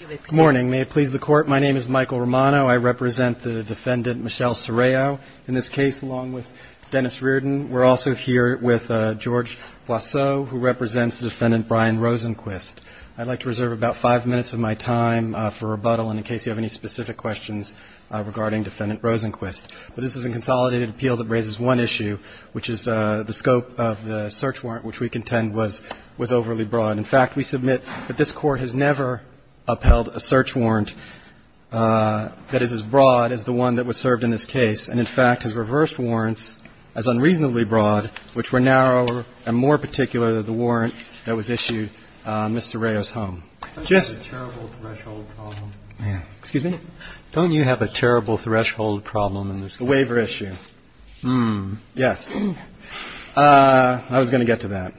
Good morning. May it please the Court, my name is Michael Romano. I represent the defendant Michelle Serrao. In this case, along with Dennis Reardon, we're also here with George Boisseau, who represents the defendant Brian Rosenquist. I'd like to reserve about five minutes of my time for rebuttal in case you have any specific questions regarding defendant Rosenquist. But this is a consolidated appeal that raises one issue, which is the scope of the search warrant, which we contend was overly broad. In fact, we submit that this Court has never upheld a search warrant that is as broad as the one that was served in this case, and, in fact, has reversed warrants as unreasonably broad, which were narrower and more particular than the warrant that was issued on Ms. Serrao's home. I just have a terrible threshold problem. Excuse me? Don't you have a terrible threshold problem in this case? The waiver issue. Hmm. Yes. I was going to get to that.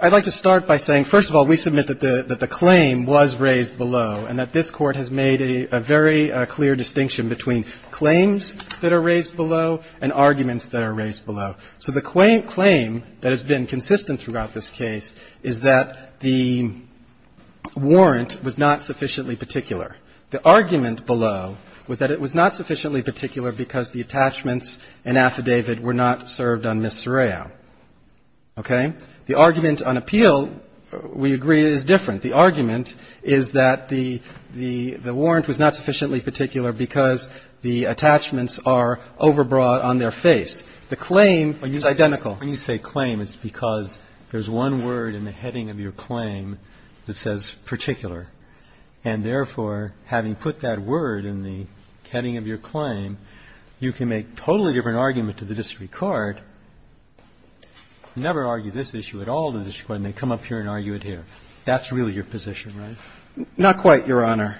I'd like to start by saying, first of all, we submit that the claim was raised below and that this Court has made a very clear distinction between claims that are raised below and arguments that are raised below. So the claim that has been consistent throughout this case is that the warrant was not sufficiently particular. The argument below was that it was not sufficiently particular because the attachments and affidavit were not served on Ms. Serrao. Okay? The argument on appeal, we agree, is different. The argument is that the warrant was not sufficiently particular because the attachments are overbroad on their face. The claim is identical. When you say claim, it's because there's one word in the heading of your claim that says particular. And therefore, having put that word in the heading of your claim, you can make a totally different argument to the district court, never argue this issue at all with the district court, and they come up here and argue it here. That's really your position, right? Not quite, Your Honor.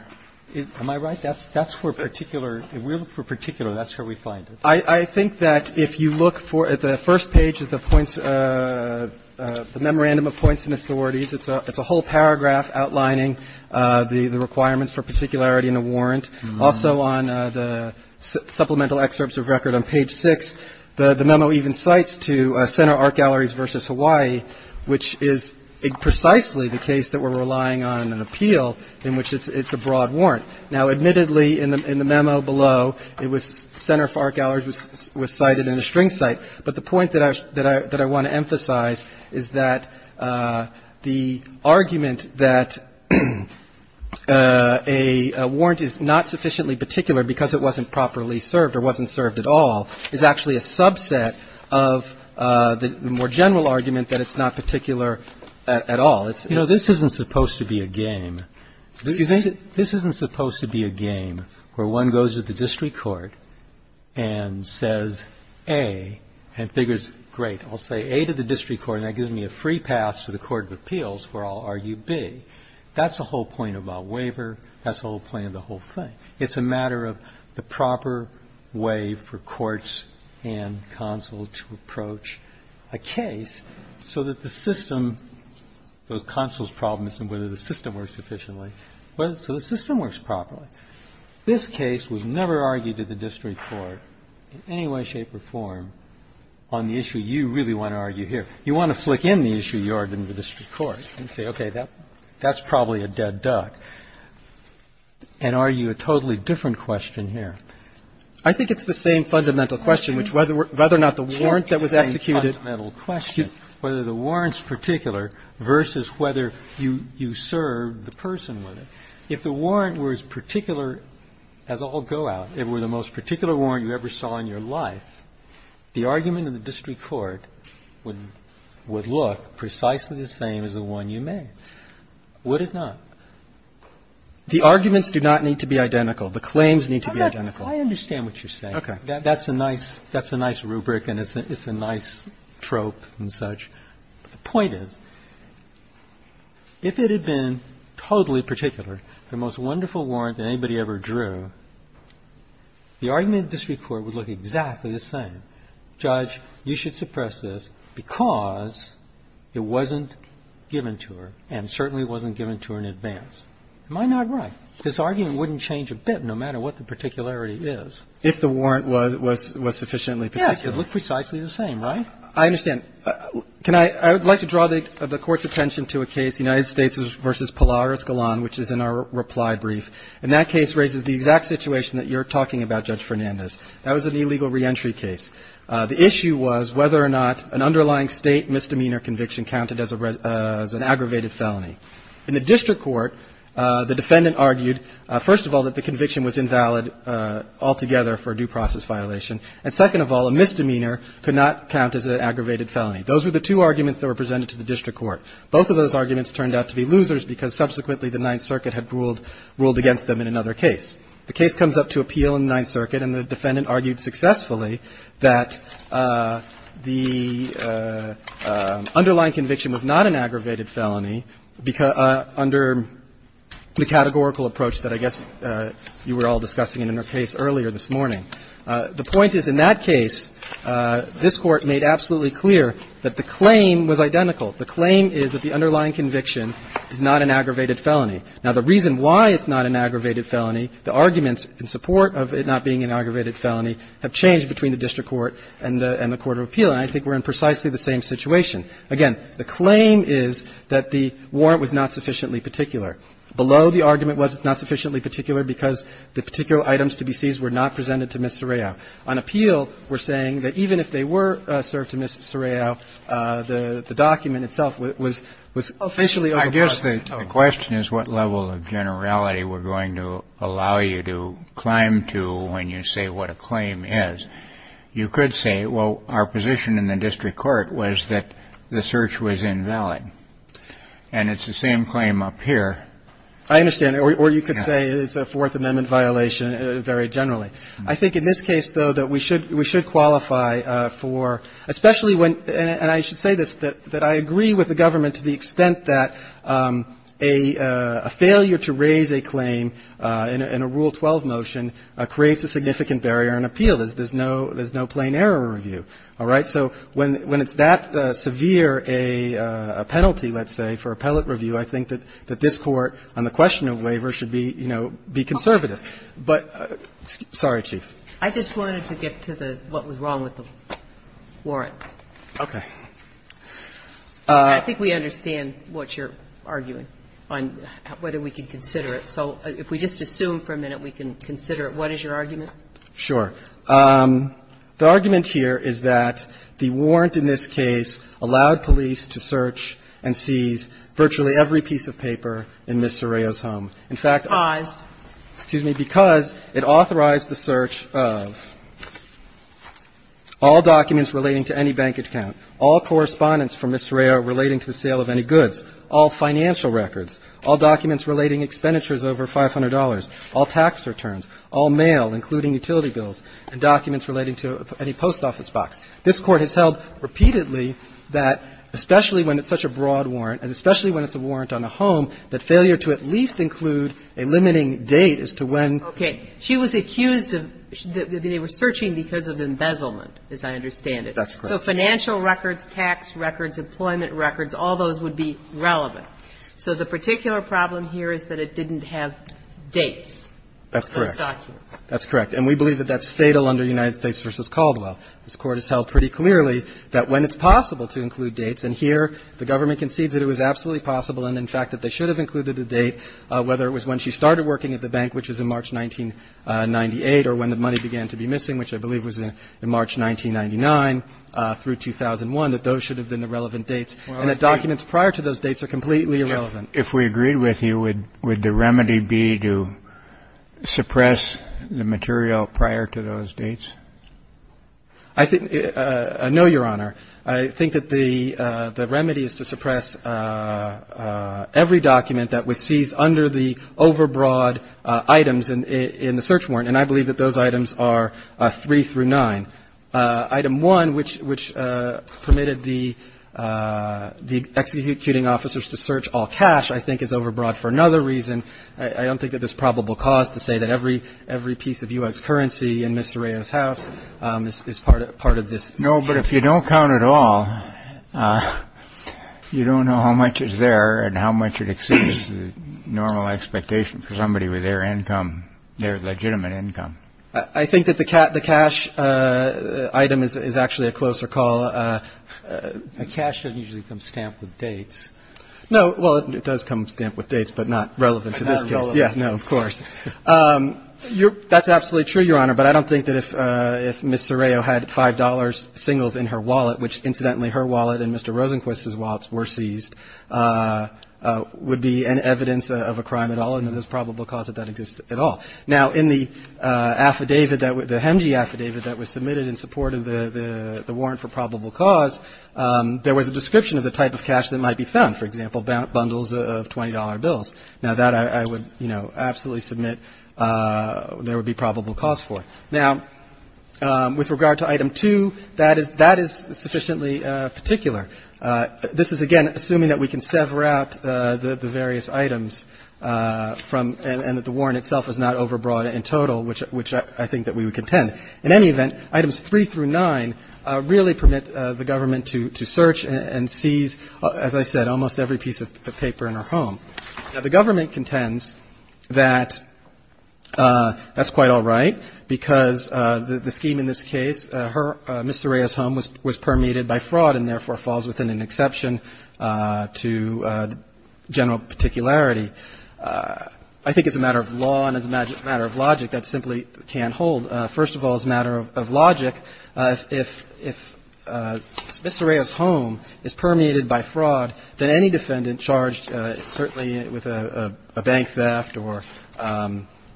Am I right? That's where particular – if we look for particular, that's where we find it. I think that if you look at the first page of the points – the memorandum of points and authorities, it's a whole paragraph outlining the requirements for particularity in a warrant. Also on the supplemental excerpts of record on page 6, the memo even cites to Center Art Galleries v. Hawaii, which is precisely the case that we're relying on an appeal in which it's a broad warrant. Now, admittedly, in the memo below, it was Center for Art Galleries was cited in the string cite, but the point that I want to emphasize is that the argument that a warrant is not sufficiently particular because it wasn't properly served or wasn't served at all is actually a subset of the more general argument that it's not particular at all. It's – You know, this isn't supposed to be a game. Excuse me? This isn't supposed to be a game where one goes to the district court and says A and figures, great, I'll say A to the district court and that gives me a free pass to the court of appeals where I'll argue B. That's the whole point about waiver. That's the whole point of the whole thing. It's a matter of the proper way for courts and consul to approach a case so that the system – So the system works properly. This case would never argue to the district court in any way, shape or form on the issue you really want to argue here. You want to flick in the issue you argue to the district court and say, okay, that's probably a dead duck and argue a totally different question here. I think it's the same fundamental question, which whether or not the warrant that was executed – It's the same fundamental question, whether the warrant's particular versus whether you served the person with it. If the warrant were as particular as all go-out, if it were the most particular warrant you ever saw in your life, the argument in the district court would look precisely the same as the one you made, would it not? The arguments do not need to be identical. The claims need to be identical. I understand what you're saying. Okay. That's a nice – that's a nice rubric and it's a nice trope and such. But the point is, if it had been totally particular, the most wonderful warrant that anybody ever drew, the argument in the district court would look exactly the same. Judge, you should suppress this because it wasn't given to her and certainly wasn't given to her in advance. Am I not right? This argument wouldn't change a bit, no matter what the particularity is. If the warrant was sufficiently particular. Yes, it would look precisely the same, right? I understand. Can I – I would like to draw the court's attention to a case, United States v. Pilar Escalon, which is in our reply brief. And that case raises the exact situation that you're talking about, Judge Fernandez. That was an illegal reentry case. The issue was whether or not an underlying state misdemeanor conviction counted as an aggravated felony. In the district court, the defendant argued, first of all, that the conviction was invalid altogether for a due process violation. And second of all, a misdemeanor could not count as an aggravated felony. Those were the two arguments that were presented to the district court. Both of those arguments turned out to be losers because subsequently the Ninth Circuit had ruled against them in another case. The case comes up to appeal in the Ninth Circuit, and the defendant argued successfully that the underlying conviction was not an aggravated felony under the categorical approach that I guess you were all discussing in your case earlier this morning. The point is, in that case, this Court made absolutely clear that the claim was identical. The claim is that the underlying conviction is not an aggravated felony. Now, the reason why it's not an aggravated felony, the arguments in support of it not being an aggravated felony have changed between the district court and the court of appeal, and I think we're in precisely the same situation. Again, the claim is that the warrant was not sufficiently particular. Below, the argument was it's not sufficiently particular because the particular items to be seized were not presented to Ms. Serrao. On appeal, we're saying that even if they were served to Ms. Serrao, the document itself was officially overpriced. I guess the question is what level of generality we're going to allow you to climb to when you say what a claim is. You could say, well, our position in the district court was that the search was invalid. And it's the same claim up here. I understand. Or you could say it's a Fourth Amendment violation very generally. I think in this case, though, that we should qualify for, especially when — and I should say this, that I agree with the government to the extent that a failure to raise a claim in a Rule 12 motion creates a significant barrier on appeal. There's no plain error review. All right? So when it's that severe a penalty, let's say, for appellate review, I think that this Court on the question of waiver should be, you know, be conservative. But — sorry, Chief. I just wanted to get to the — what was wrong with the warrant. Okay. I think we understand what you're arguing on whether we can consider it. So if we just assume for a minute we can consider it, what is your argument? Sure. The argument here is that the warrant in this case allowed police to search and seize virtually every piece of paper in Ms. Serrao's home. In fact — Because? Excuse me. Because it authorized the search of all documents relating to any bank account, all correspondence from Ms. Serrao relating to the sale of any goods, all financial records, all documents relating expenditures over $500, all tax returns, all mail, including utility bills, and documents relating to any post office box. This Court has held repeatedly that, especially when it's such a broad warrant and especially when it's a warrant on a home, that failure to at least include a limiting date as to when — Okay. She was accused of — they were searching because of embezzlement, as I understand it. That's correct. So financial records, tax records, employment records, all those would be relevant. So the particular problem here is that it didn't have dates for those documents. That's correct. And we believe that that's fatal under United States v. Caldwell. This Court has held pretty clearly that when it's possible to include dates, and here the government concedes that it was absolutely possible and, in fact, that they should have included a date, whether it was when she started working at the bank, which was in March 1998, or when the money began to be missing, which I believe was in March 1999 through 2001, that those should have been the relevant dates, and that documents prior to those dates are completely irrelevant. If we agreed with you, would the remedy be to suppress the material prior to those dates? I think — no, Your Honor. I think that the remedy is to suppress every document that was seized under the overbroad items in the search warrant, and I believe that those items are three through nine. Item one, which permitted the executing officers to search all cash, I think is overbroad for another reason. I don't think that there's probable cause to say that every piece of U.S. currency in Mr. Rayo's house is part of this. No, but if you don't count it all, you don't know how much is there and how much it exceeds the normal expectation for somebody with their income, their legitimate income. I think that the cash item is actually a closer call. Cash doesn't usually come stamped with dates. No. Well, it does come stamped with dates, but not relevant to this case. Yes, no, of course. That's absolutely true, Your Honor, but I don't think that if Ms. Rayo had $5 singles in her wallet, which, incidentally, her wallet and Mr. Rosenquist's wallets were seized, would be an evidence of a crime at all, and there's probable cause that that exists at all. Now, in the affidavit, the HMG affidavit that was submitted in support of the warrant for probable cause, there was a description of the type of cash that might be found, for example, bundles of $20 bills. Now, that I would, you know, absolutely submit there would be probable cause for. Now, with regard to item two, that is sufficiently particular. This is, again, assuming that we can sever out the various items from and that the HMG affidavit is not overbroad in total, which I think that we would contend. In any event, items three through nine really permit the government to search and seize, as I said, almost every piece of paper in her home. Now, the government contends that that's quite all right because the scheme in this case, her, Ms. Rayo's home was permeated by fraud and therefore falls within an exception to general particularity. And I think it's a matter of law and it's a matter of logic that simply can't hold. First of all, as a matter of logic, if Ms. Rayo's home is permeated by fraud, then any defendant charged, certainly with a bank theft or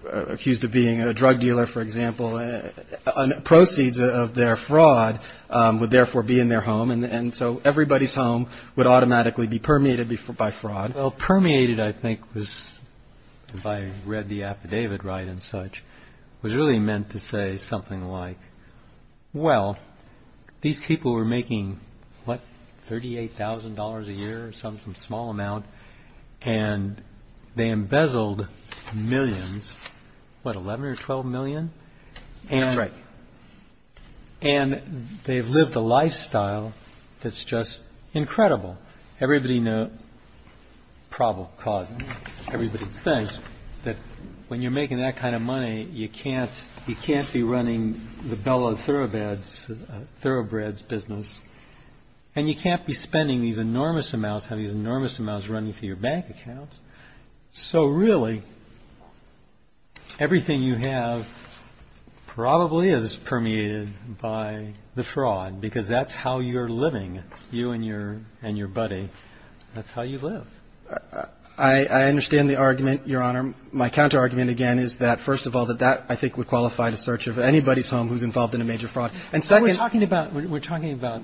accused of being a drug dealer, for example, on proceeds of their fraud would therefore be in their home. And so everybody's home would automatically be permeated by fraud. Well, permeated, I think was, if I read the affidavit right and such, was really meant to say something like, well, these people were making, what, thirty eight thousand dollars a year, some small amount, and they embezzled millions, what, eleven or twelve million? That's right. And they've lived a lifestyle that's just incredible. Everybody knows, probable cause, everybody thinks that when you're making that kind of money, you can't you can't be running the Bella Thoroughbreds business and you can't be spending these enormous amounts, have these enormous amounts running through your bank account. So really, everything you have probably is permeated by the fraud, because that's how you're living, you and your and your buddy. That's how you live. I understand the argument, Your Honor. My counter argument, again, is that, first of all, that that I think would qualify the search of anybody's home who's involved in a major fraud. And secondly, we're talking about we're talking about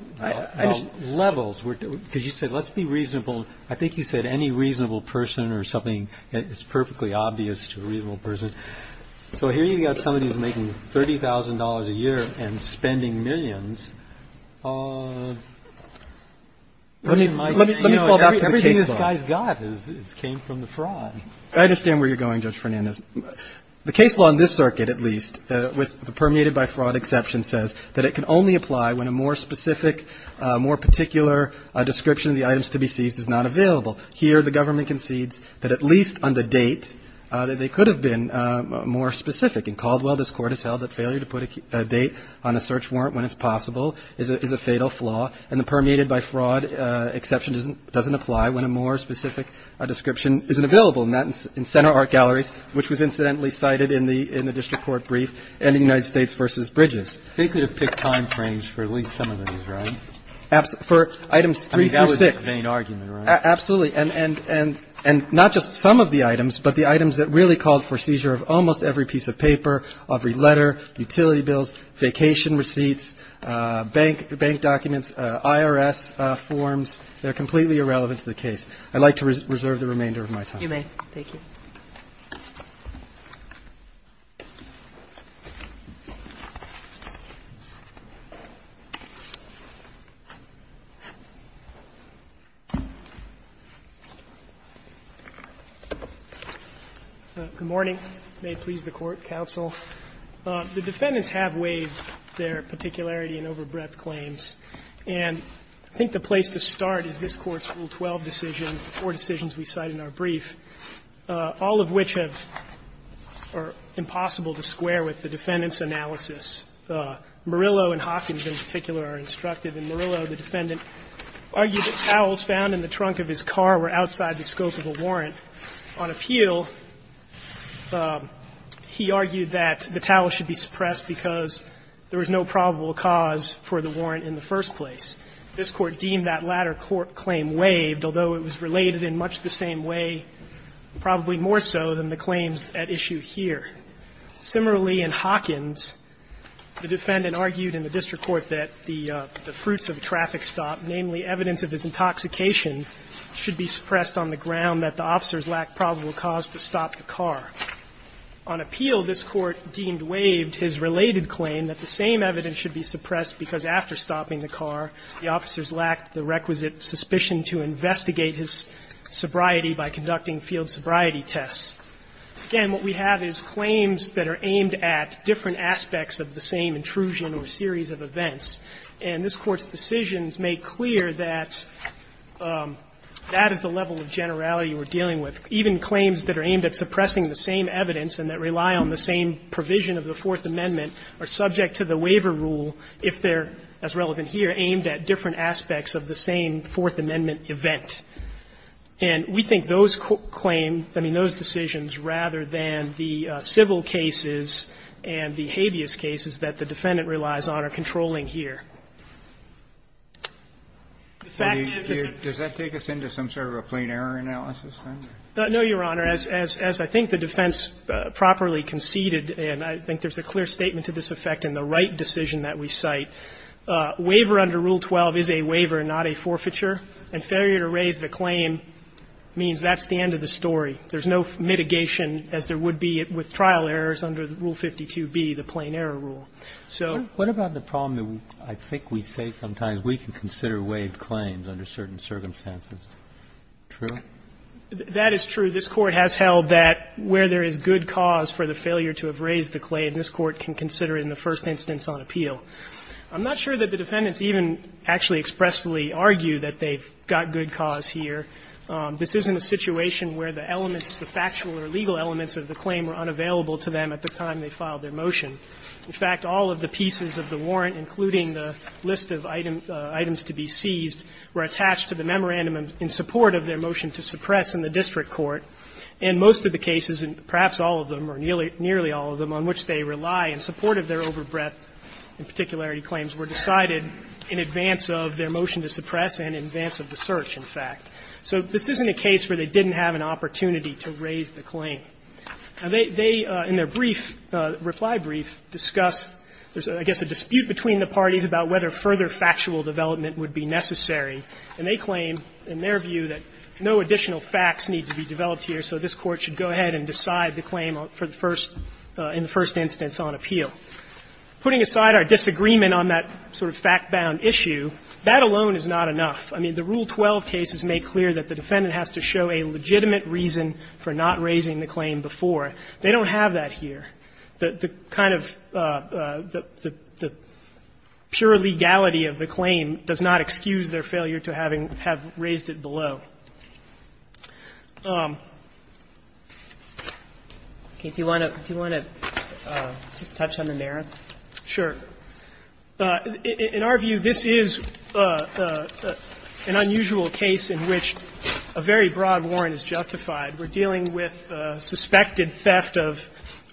levels because you said let's be reasonable. I think you said any reasonable person or something is perfectly obvious to a reasonable person. So here you've got somebody who's making thirty thousand dollars a year and spending millions. Let me let me let me fall back to everything this guy's got is came from the fraud. I understand where you're going. Judge Fernandez, the case law in this circuit, at least with the permeated by fraud exception, says that it can only apply when a more specific, more particular description of the items to be seized is not available here. The government concedes that at least on the date that they could have been more specific and Caldwell, this court has held that failure to put a date on a search warrant when it's possible is a fatal flaw. And the permeated by fraud exception doesn't doesn't apply when a more specific description isn't available. And that's in center art galleries, which was incidentally cited in the in the district court brief and the United States versus Bridges. They could have picked time frames for at least some of them, right? For items three, four, six. I mean, that was a vain argument, right? Absolutely. And and and not just some of the items, but the items that really called for seizure of almost every piece of paper, every letter, utility bills, vacation receipts, bank bank documents, IRS forms. They're completely irrelevant to the case. I'd like to reserve the remainder of my time. You may. Thank you. Good morning. May it please the Court, counsel. The defendants have waived their particularity and overbreadth claims. And I think the place to start is this Court's Rule 12 decisions, the four decisions we cite in our brief, all of which have or are impossible to square with the defendant's analysis. Murillo and Hawkins, in particular, are instructive. In Murillo, the defendant argued that towels found in the trunk of his car were outside the scope of a warrant. On appeal, he argued that the towel should be suppressed because there was no probable cause for the warrant in the first place. This Court deemed that latter claim waived, although it was related in much the same way, probably more so than the claims at issue here. Similarly, in Hawkins, the defendant argued in the district court that the fruits of a traffic stop, namely evidence of his intoxication, should be suppressed on the ground that the officers lacked probable cause to stop the car. On appeal, this Court deemed waived his related claim that the same evidence should be suppressed because after stopping the car, the officers lacked the requisite suspicion to investigate his sobriety by conducting field sobriety tests. Again, what we have is claims that are aimed at different aspects of the same intrusion or series of events. And this Court's decisions make clear that that is the level of generality we're dealing with. Even claims that are aimed at suppressing the same evidence and that rely on the same provision of the Fourth Amendment are subject to the waiver rule if they're, as relevant here, aimed at different aspects of the same Fourth Amendment event. And we think those claim – I mean, those decisions, rather than the civil cases and the habeas cases that the defendant relies on are controlling here. The fact is that the – Kennedy, does that take us into some sort of a plain error analysis then? No, Your Honor. As I think the defense properly conceded, and I think there's a clear statement to this effect in the right decision that we cite, waiver under Rule 12 is a waiver, not a forfeiture, and failure to raise the claim means that's the end of the story. There's no mitigation as there would be with trial errors under Rule 52b, the plain error rule. So – What about the problem that I think we say sometimes we can consider waived claims under certain circumstances? True? That is true. This Court has held that where there is good cause for the failure to have raised the claim, this Court can consider it in the first instance on appeal. I'm not sure that the defendants even actually expressly argue that they've got good cause here. This isn't a situation where the elements, the factual or legal elements of the claim were unavailable to them at the time they filed their motion. In fact, all of the pieces of the warrant, including the list of items to be seized, were attached to the memorandum in support of their motion to suppress in the district court. And most of the cases, and perhaps all of them or nearly all of them, on which they rely in support of their overbreadth and particularity claims were decided in advance of their motion to suppress and in advance of the search, in fact. So this isn't a case where they didn't have an opportunity to raise the claim. They, in their brief, reply brief, discussed, I guess, a dispute between the parties about whether further factual development would be necessary, and they claim, in their view, that no additional facts need to be developed here, so this Court should go ahead and decide the claim for the first – in the first instance on appeal. Putting aside our disagreement on that sort of fact-bound issue, that alone is not enough. I mean, the Rule 12 case has made clear that the defendant has to show a legitimate reason for not raising the claim before. They don't have that here. The kind of – the pure legality of the claim does not excuse their failure to having – have raised it below. Kagan. Do you want to – do you want to just touch on the merits? Sure. In our view, this is an unusual case in which a very broad warrant is justified. We're dealing with suspected theft of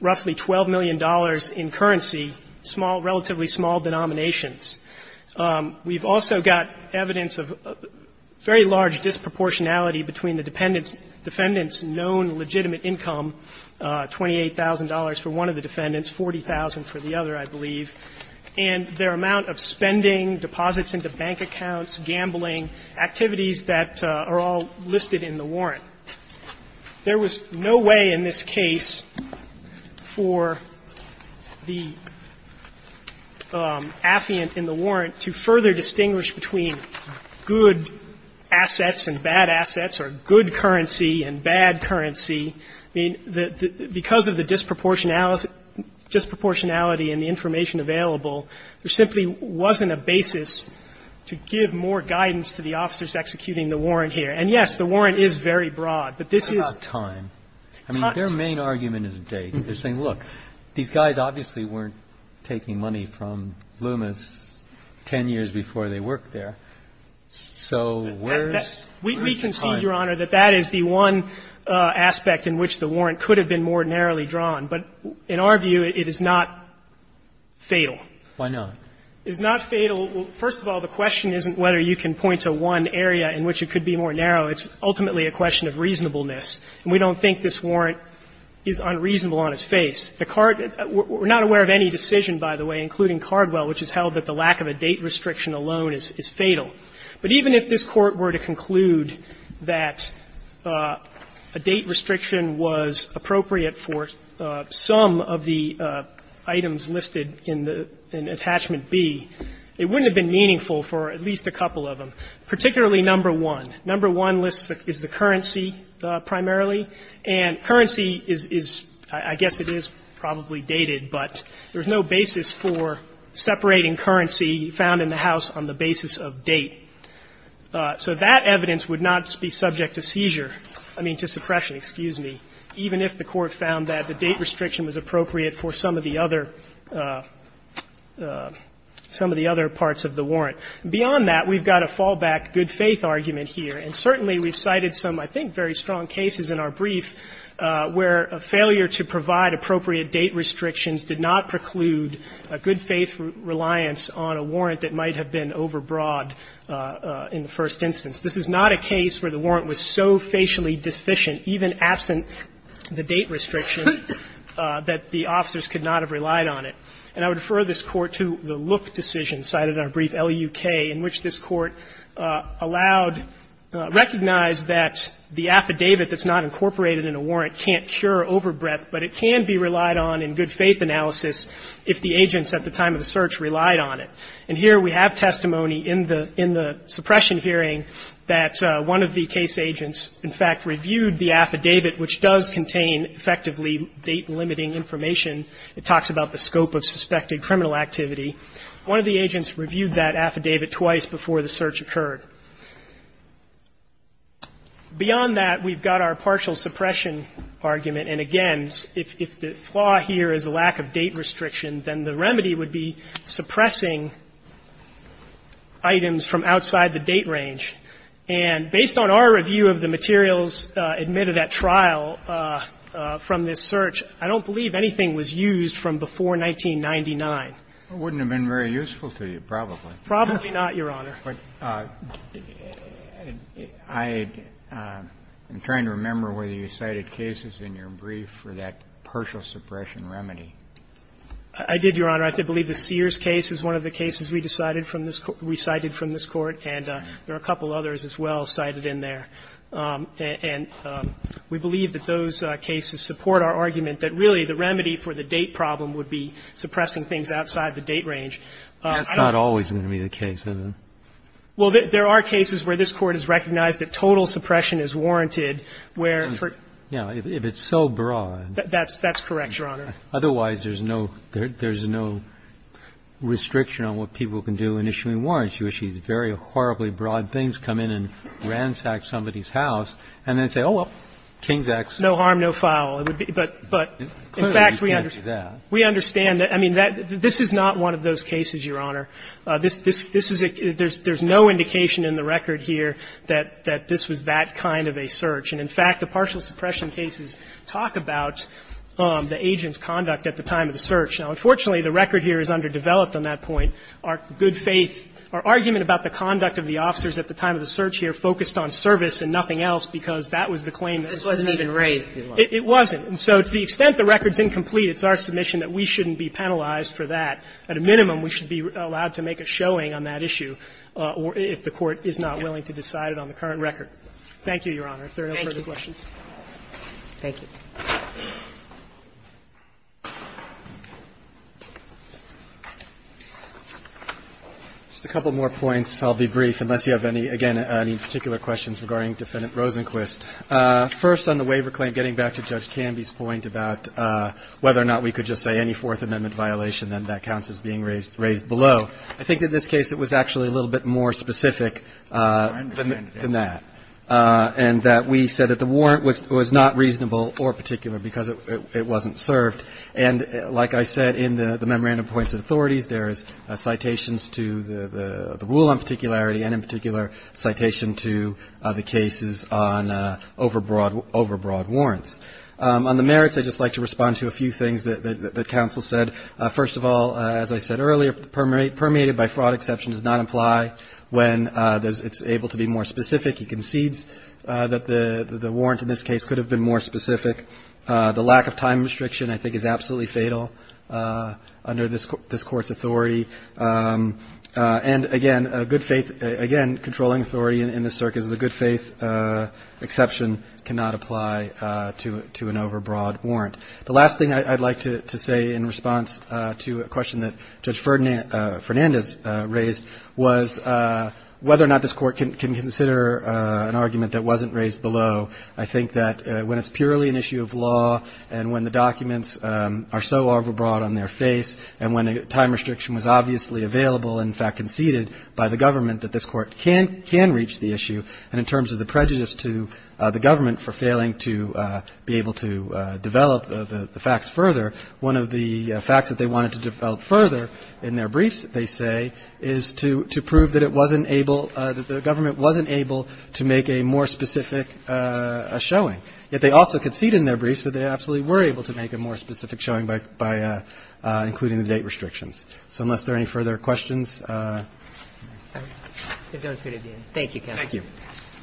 roughly $12 million in currency, small – relatively small denominations. We've also got evidence of very large disproportionality between the defendant's known legitimate income, $28,000 for one of the defendants, $40,000 for the other, I believe, and their amount of spending, deposits into bank accounts, gambling, activities that are all listed in the warrant. There was no way in this case for the affiant in the warrant to further distinguish between good assets and bad assets or good currency and bad currency. I mean, because of the disproportionality and the information available, there simply wasn't a basis to give more guidance to the officers executing the warrant here. And, yes, the warrant is very broad, but this is – What about time? I mean, their main argument is a date. They're saying, look, these guys obviously weren't taking money from Loomis 10 years before they worked there, so where's the time? We concede, Your Honor, that that is the one aspect in which the warrant could have been more narrowly drawn, but in our view, it is not fatal. Why not? It's not fatal. First of all, the question isn't whether you can point to one area in which it could be more narrow. It's ultimately a question of reasonableness, and we don't think this warrant is unreasonable on its face. The card – we're not aware of any decision, by the way, including Cardwell, which has held that the lack of a date restriction alone is fatal. But even if this Court were to conclude that a date restriction was appropriate for some of the items listed in the – in Attachment B, it wouldn't have been meaningful for at least a couple of them. Particularly number one. Number one lists the – is the currency primarily, and currency is – I guess it is probably dated, but there's no basis for separating currency found in the house on the basis of date. So that evidence would not be subject to seizure – I mean, to suppression, excuse me, even if the Court found that the date restriction was appropriate for some of the other – some of the other parts of the warrant. Beyond that, we've got a fallback good-faith argument here. And certainly we've cited some, I think, very strong cases in our brief where a failure to provide appropriate date restrictions did not preclude a good-faith reliance on a warrant that might have been overbroad in the first instance. This is not a case where the warrant was so facially deficient, even absent the date restriction, that the officers could not have relied on it. And I would refer this Court to the Look decision cited in our brief, L.U.K., in which this Court allowed – recognized that the affidavit that's not incorporated in a warrant can't cure overbreadth, but it can be relied on in good-faith analysis if the agents at the time of the search relied on it. And here we have testimony in the – in the suppression hearing that one of the case agents, in fact, reviewed the affidavit, which does contain effectively date-limiting information. It talks about the scope of suspected criminal activity. One of the agents reviewed that affidavit twice before the search occurred. Beyond that, we've got our partial suppression argument. And again, if the flaw here is the lack of date restriction, then the remedy would be suppressing items from outside the date range. And based on our review of the materials admitted at trial from this search, I don't believe anything was used from before 1999. Kennedy, I wouldn't have been very useful to you, probably. Probably not, Your Honor. But I'm trying to remember whether you cited cases in your brief for that partial suppression remedy. I did, Your Honor. I believe the Sears case is one of the cases we decided from this – we cited from this Court. And there are a couple others as well cited in there. And we believe that those cases support our argument that really the remedy for the date problem would be suppressing things outside the date range. I don't know. That's not always going to be the case, is it? Well, there are cases where this Court has recognized that total suppression is warranted, where for – Yeah, if it's so broad. That's correct, Your Honor. Otherwise, there's no restriction on what people can do in issuing warrants. Very horribly broad things come in and ransack somebody's house and then they say, oh, well, King's acts – Warner, no harm, no foul. But – but in fact– In fact, we can't do that. We understand. I mean, this is not one of those cases, Your Honor. This – there's no indication in the record here that this was that kind of a search. And in fact, the partial suppression cases talk about the agent's conduct at the time of the search. Now, unfortunately, the record here is underdeveloped on that point. Our good faith – our argument about the conduct of the officers at the time of the search here focused on service and nothing else, because that was the claim that– This wasn't even raised. It wasn't. And so to the extent the record's incomplete, it's our submission that we shouldn't be penalized for that. At a minimum, we should be allowed to make a showing on that issue if the Court is not willing to decide it on the current record. Thank you, Your Honor. If there are no further questions. Thank you. Just a couple more points. I'll be brief, unless you have any – again, any particular questions regarding Defendant Rosenquist. First, on the waiver claim, getting back to Judge Canby's point about whether or not we could just say any Fourth Amendment violation, then that counts as being raised – raised below. I think in this case it was actually a little bit more specific than that. And that we said that the warrant was not reasonable or particular because it wasn't served. And like I said in the memorandum points of authorities, there is citations to the rule on particularity and in particular citation to the cases on overbroad – overbroad warrants. On the merits, I'd just like to respond to a few things that counsel said. First of all, as I said earlier, permeated by fraud exception does not imply when it's able to be more specific. He concedes that the warrant in this case could have been more specific. The lack of time restriction, I think, is absolutely fatal under this Court's authority. And again, a good faith – again, controlling authority in this circuit is a good faith exception cannot apply to an overbroad warrant. The last thing I'd like to say in response to a question that Judge Fernandez raised was whether or not this Court can consider an argument that wasn't raised below. I think that when it's purely an issue of law and when the documents are so overbroad on their face and when a time restriction was obviously available, in fact conceded by the government, that this Court can reach the issue. And in terms of the prejudice to the government for failing to be able to develop the facts further, one of the facts that they wanted to develop further in their case today is to prove that it wasn't able – that the government wasn't able to make a more specific showing. Yet they also conceded in their briefs that they absolutely were able to make a more specific showing by including the date restrictions. So unless there are any further questions, I'm going to conclude at the end. Thank you, Counsel. Thank you.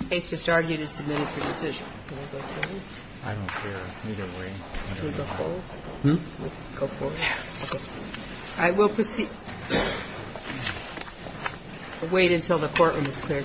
The case just argued is submitted for decision. Can I go forward? I don't care. Either way, I don't know how. Can we go forward? Go forward. I will proceed. I'll wait until the courtroom is cleared.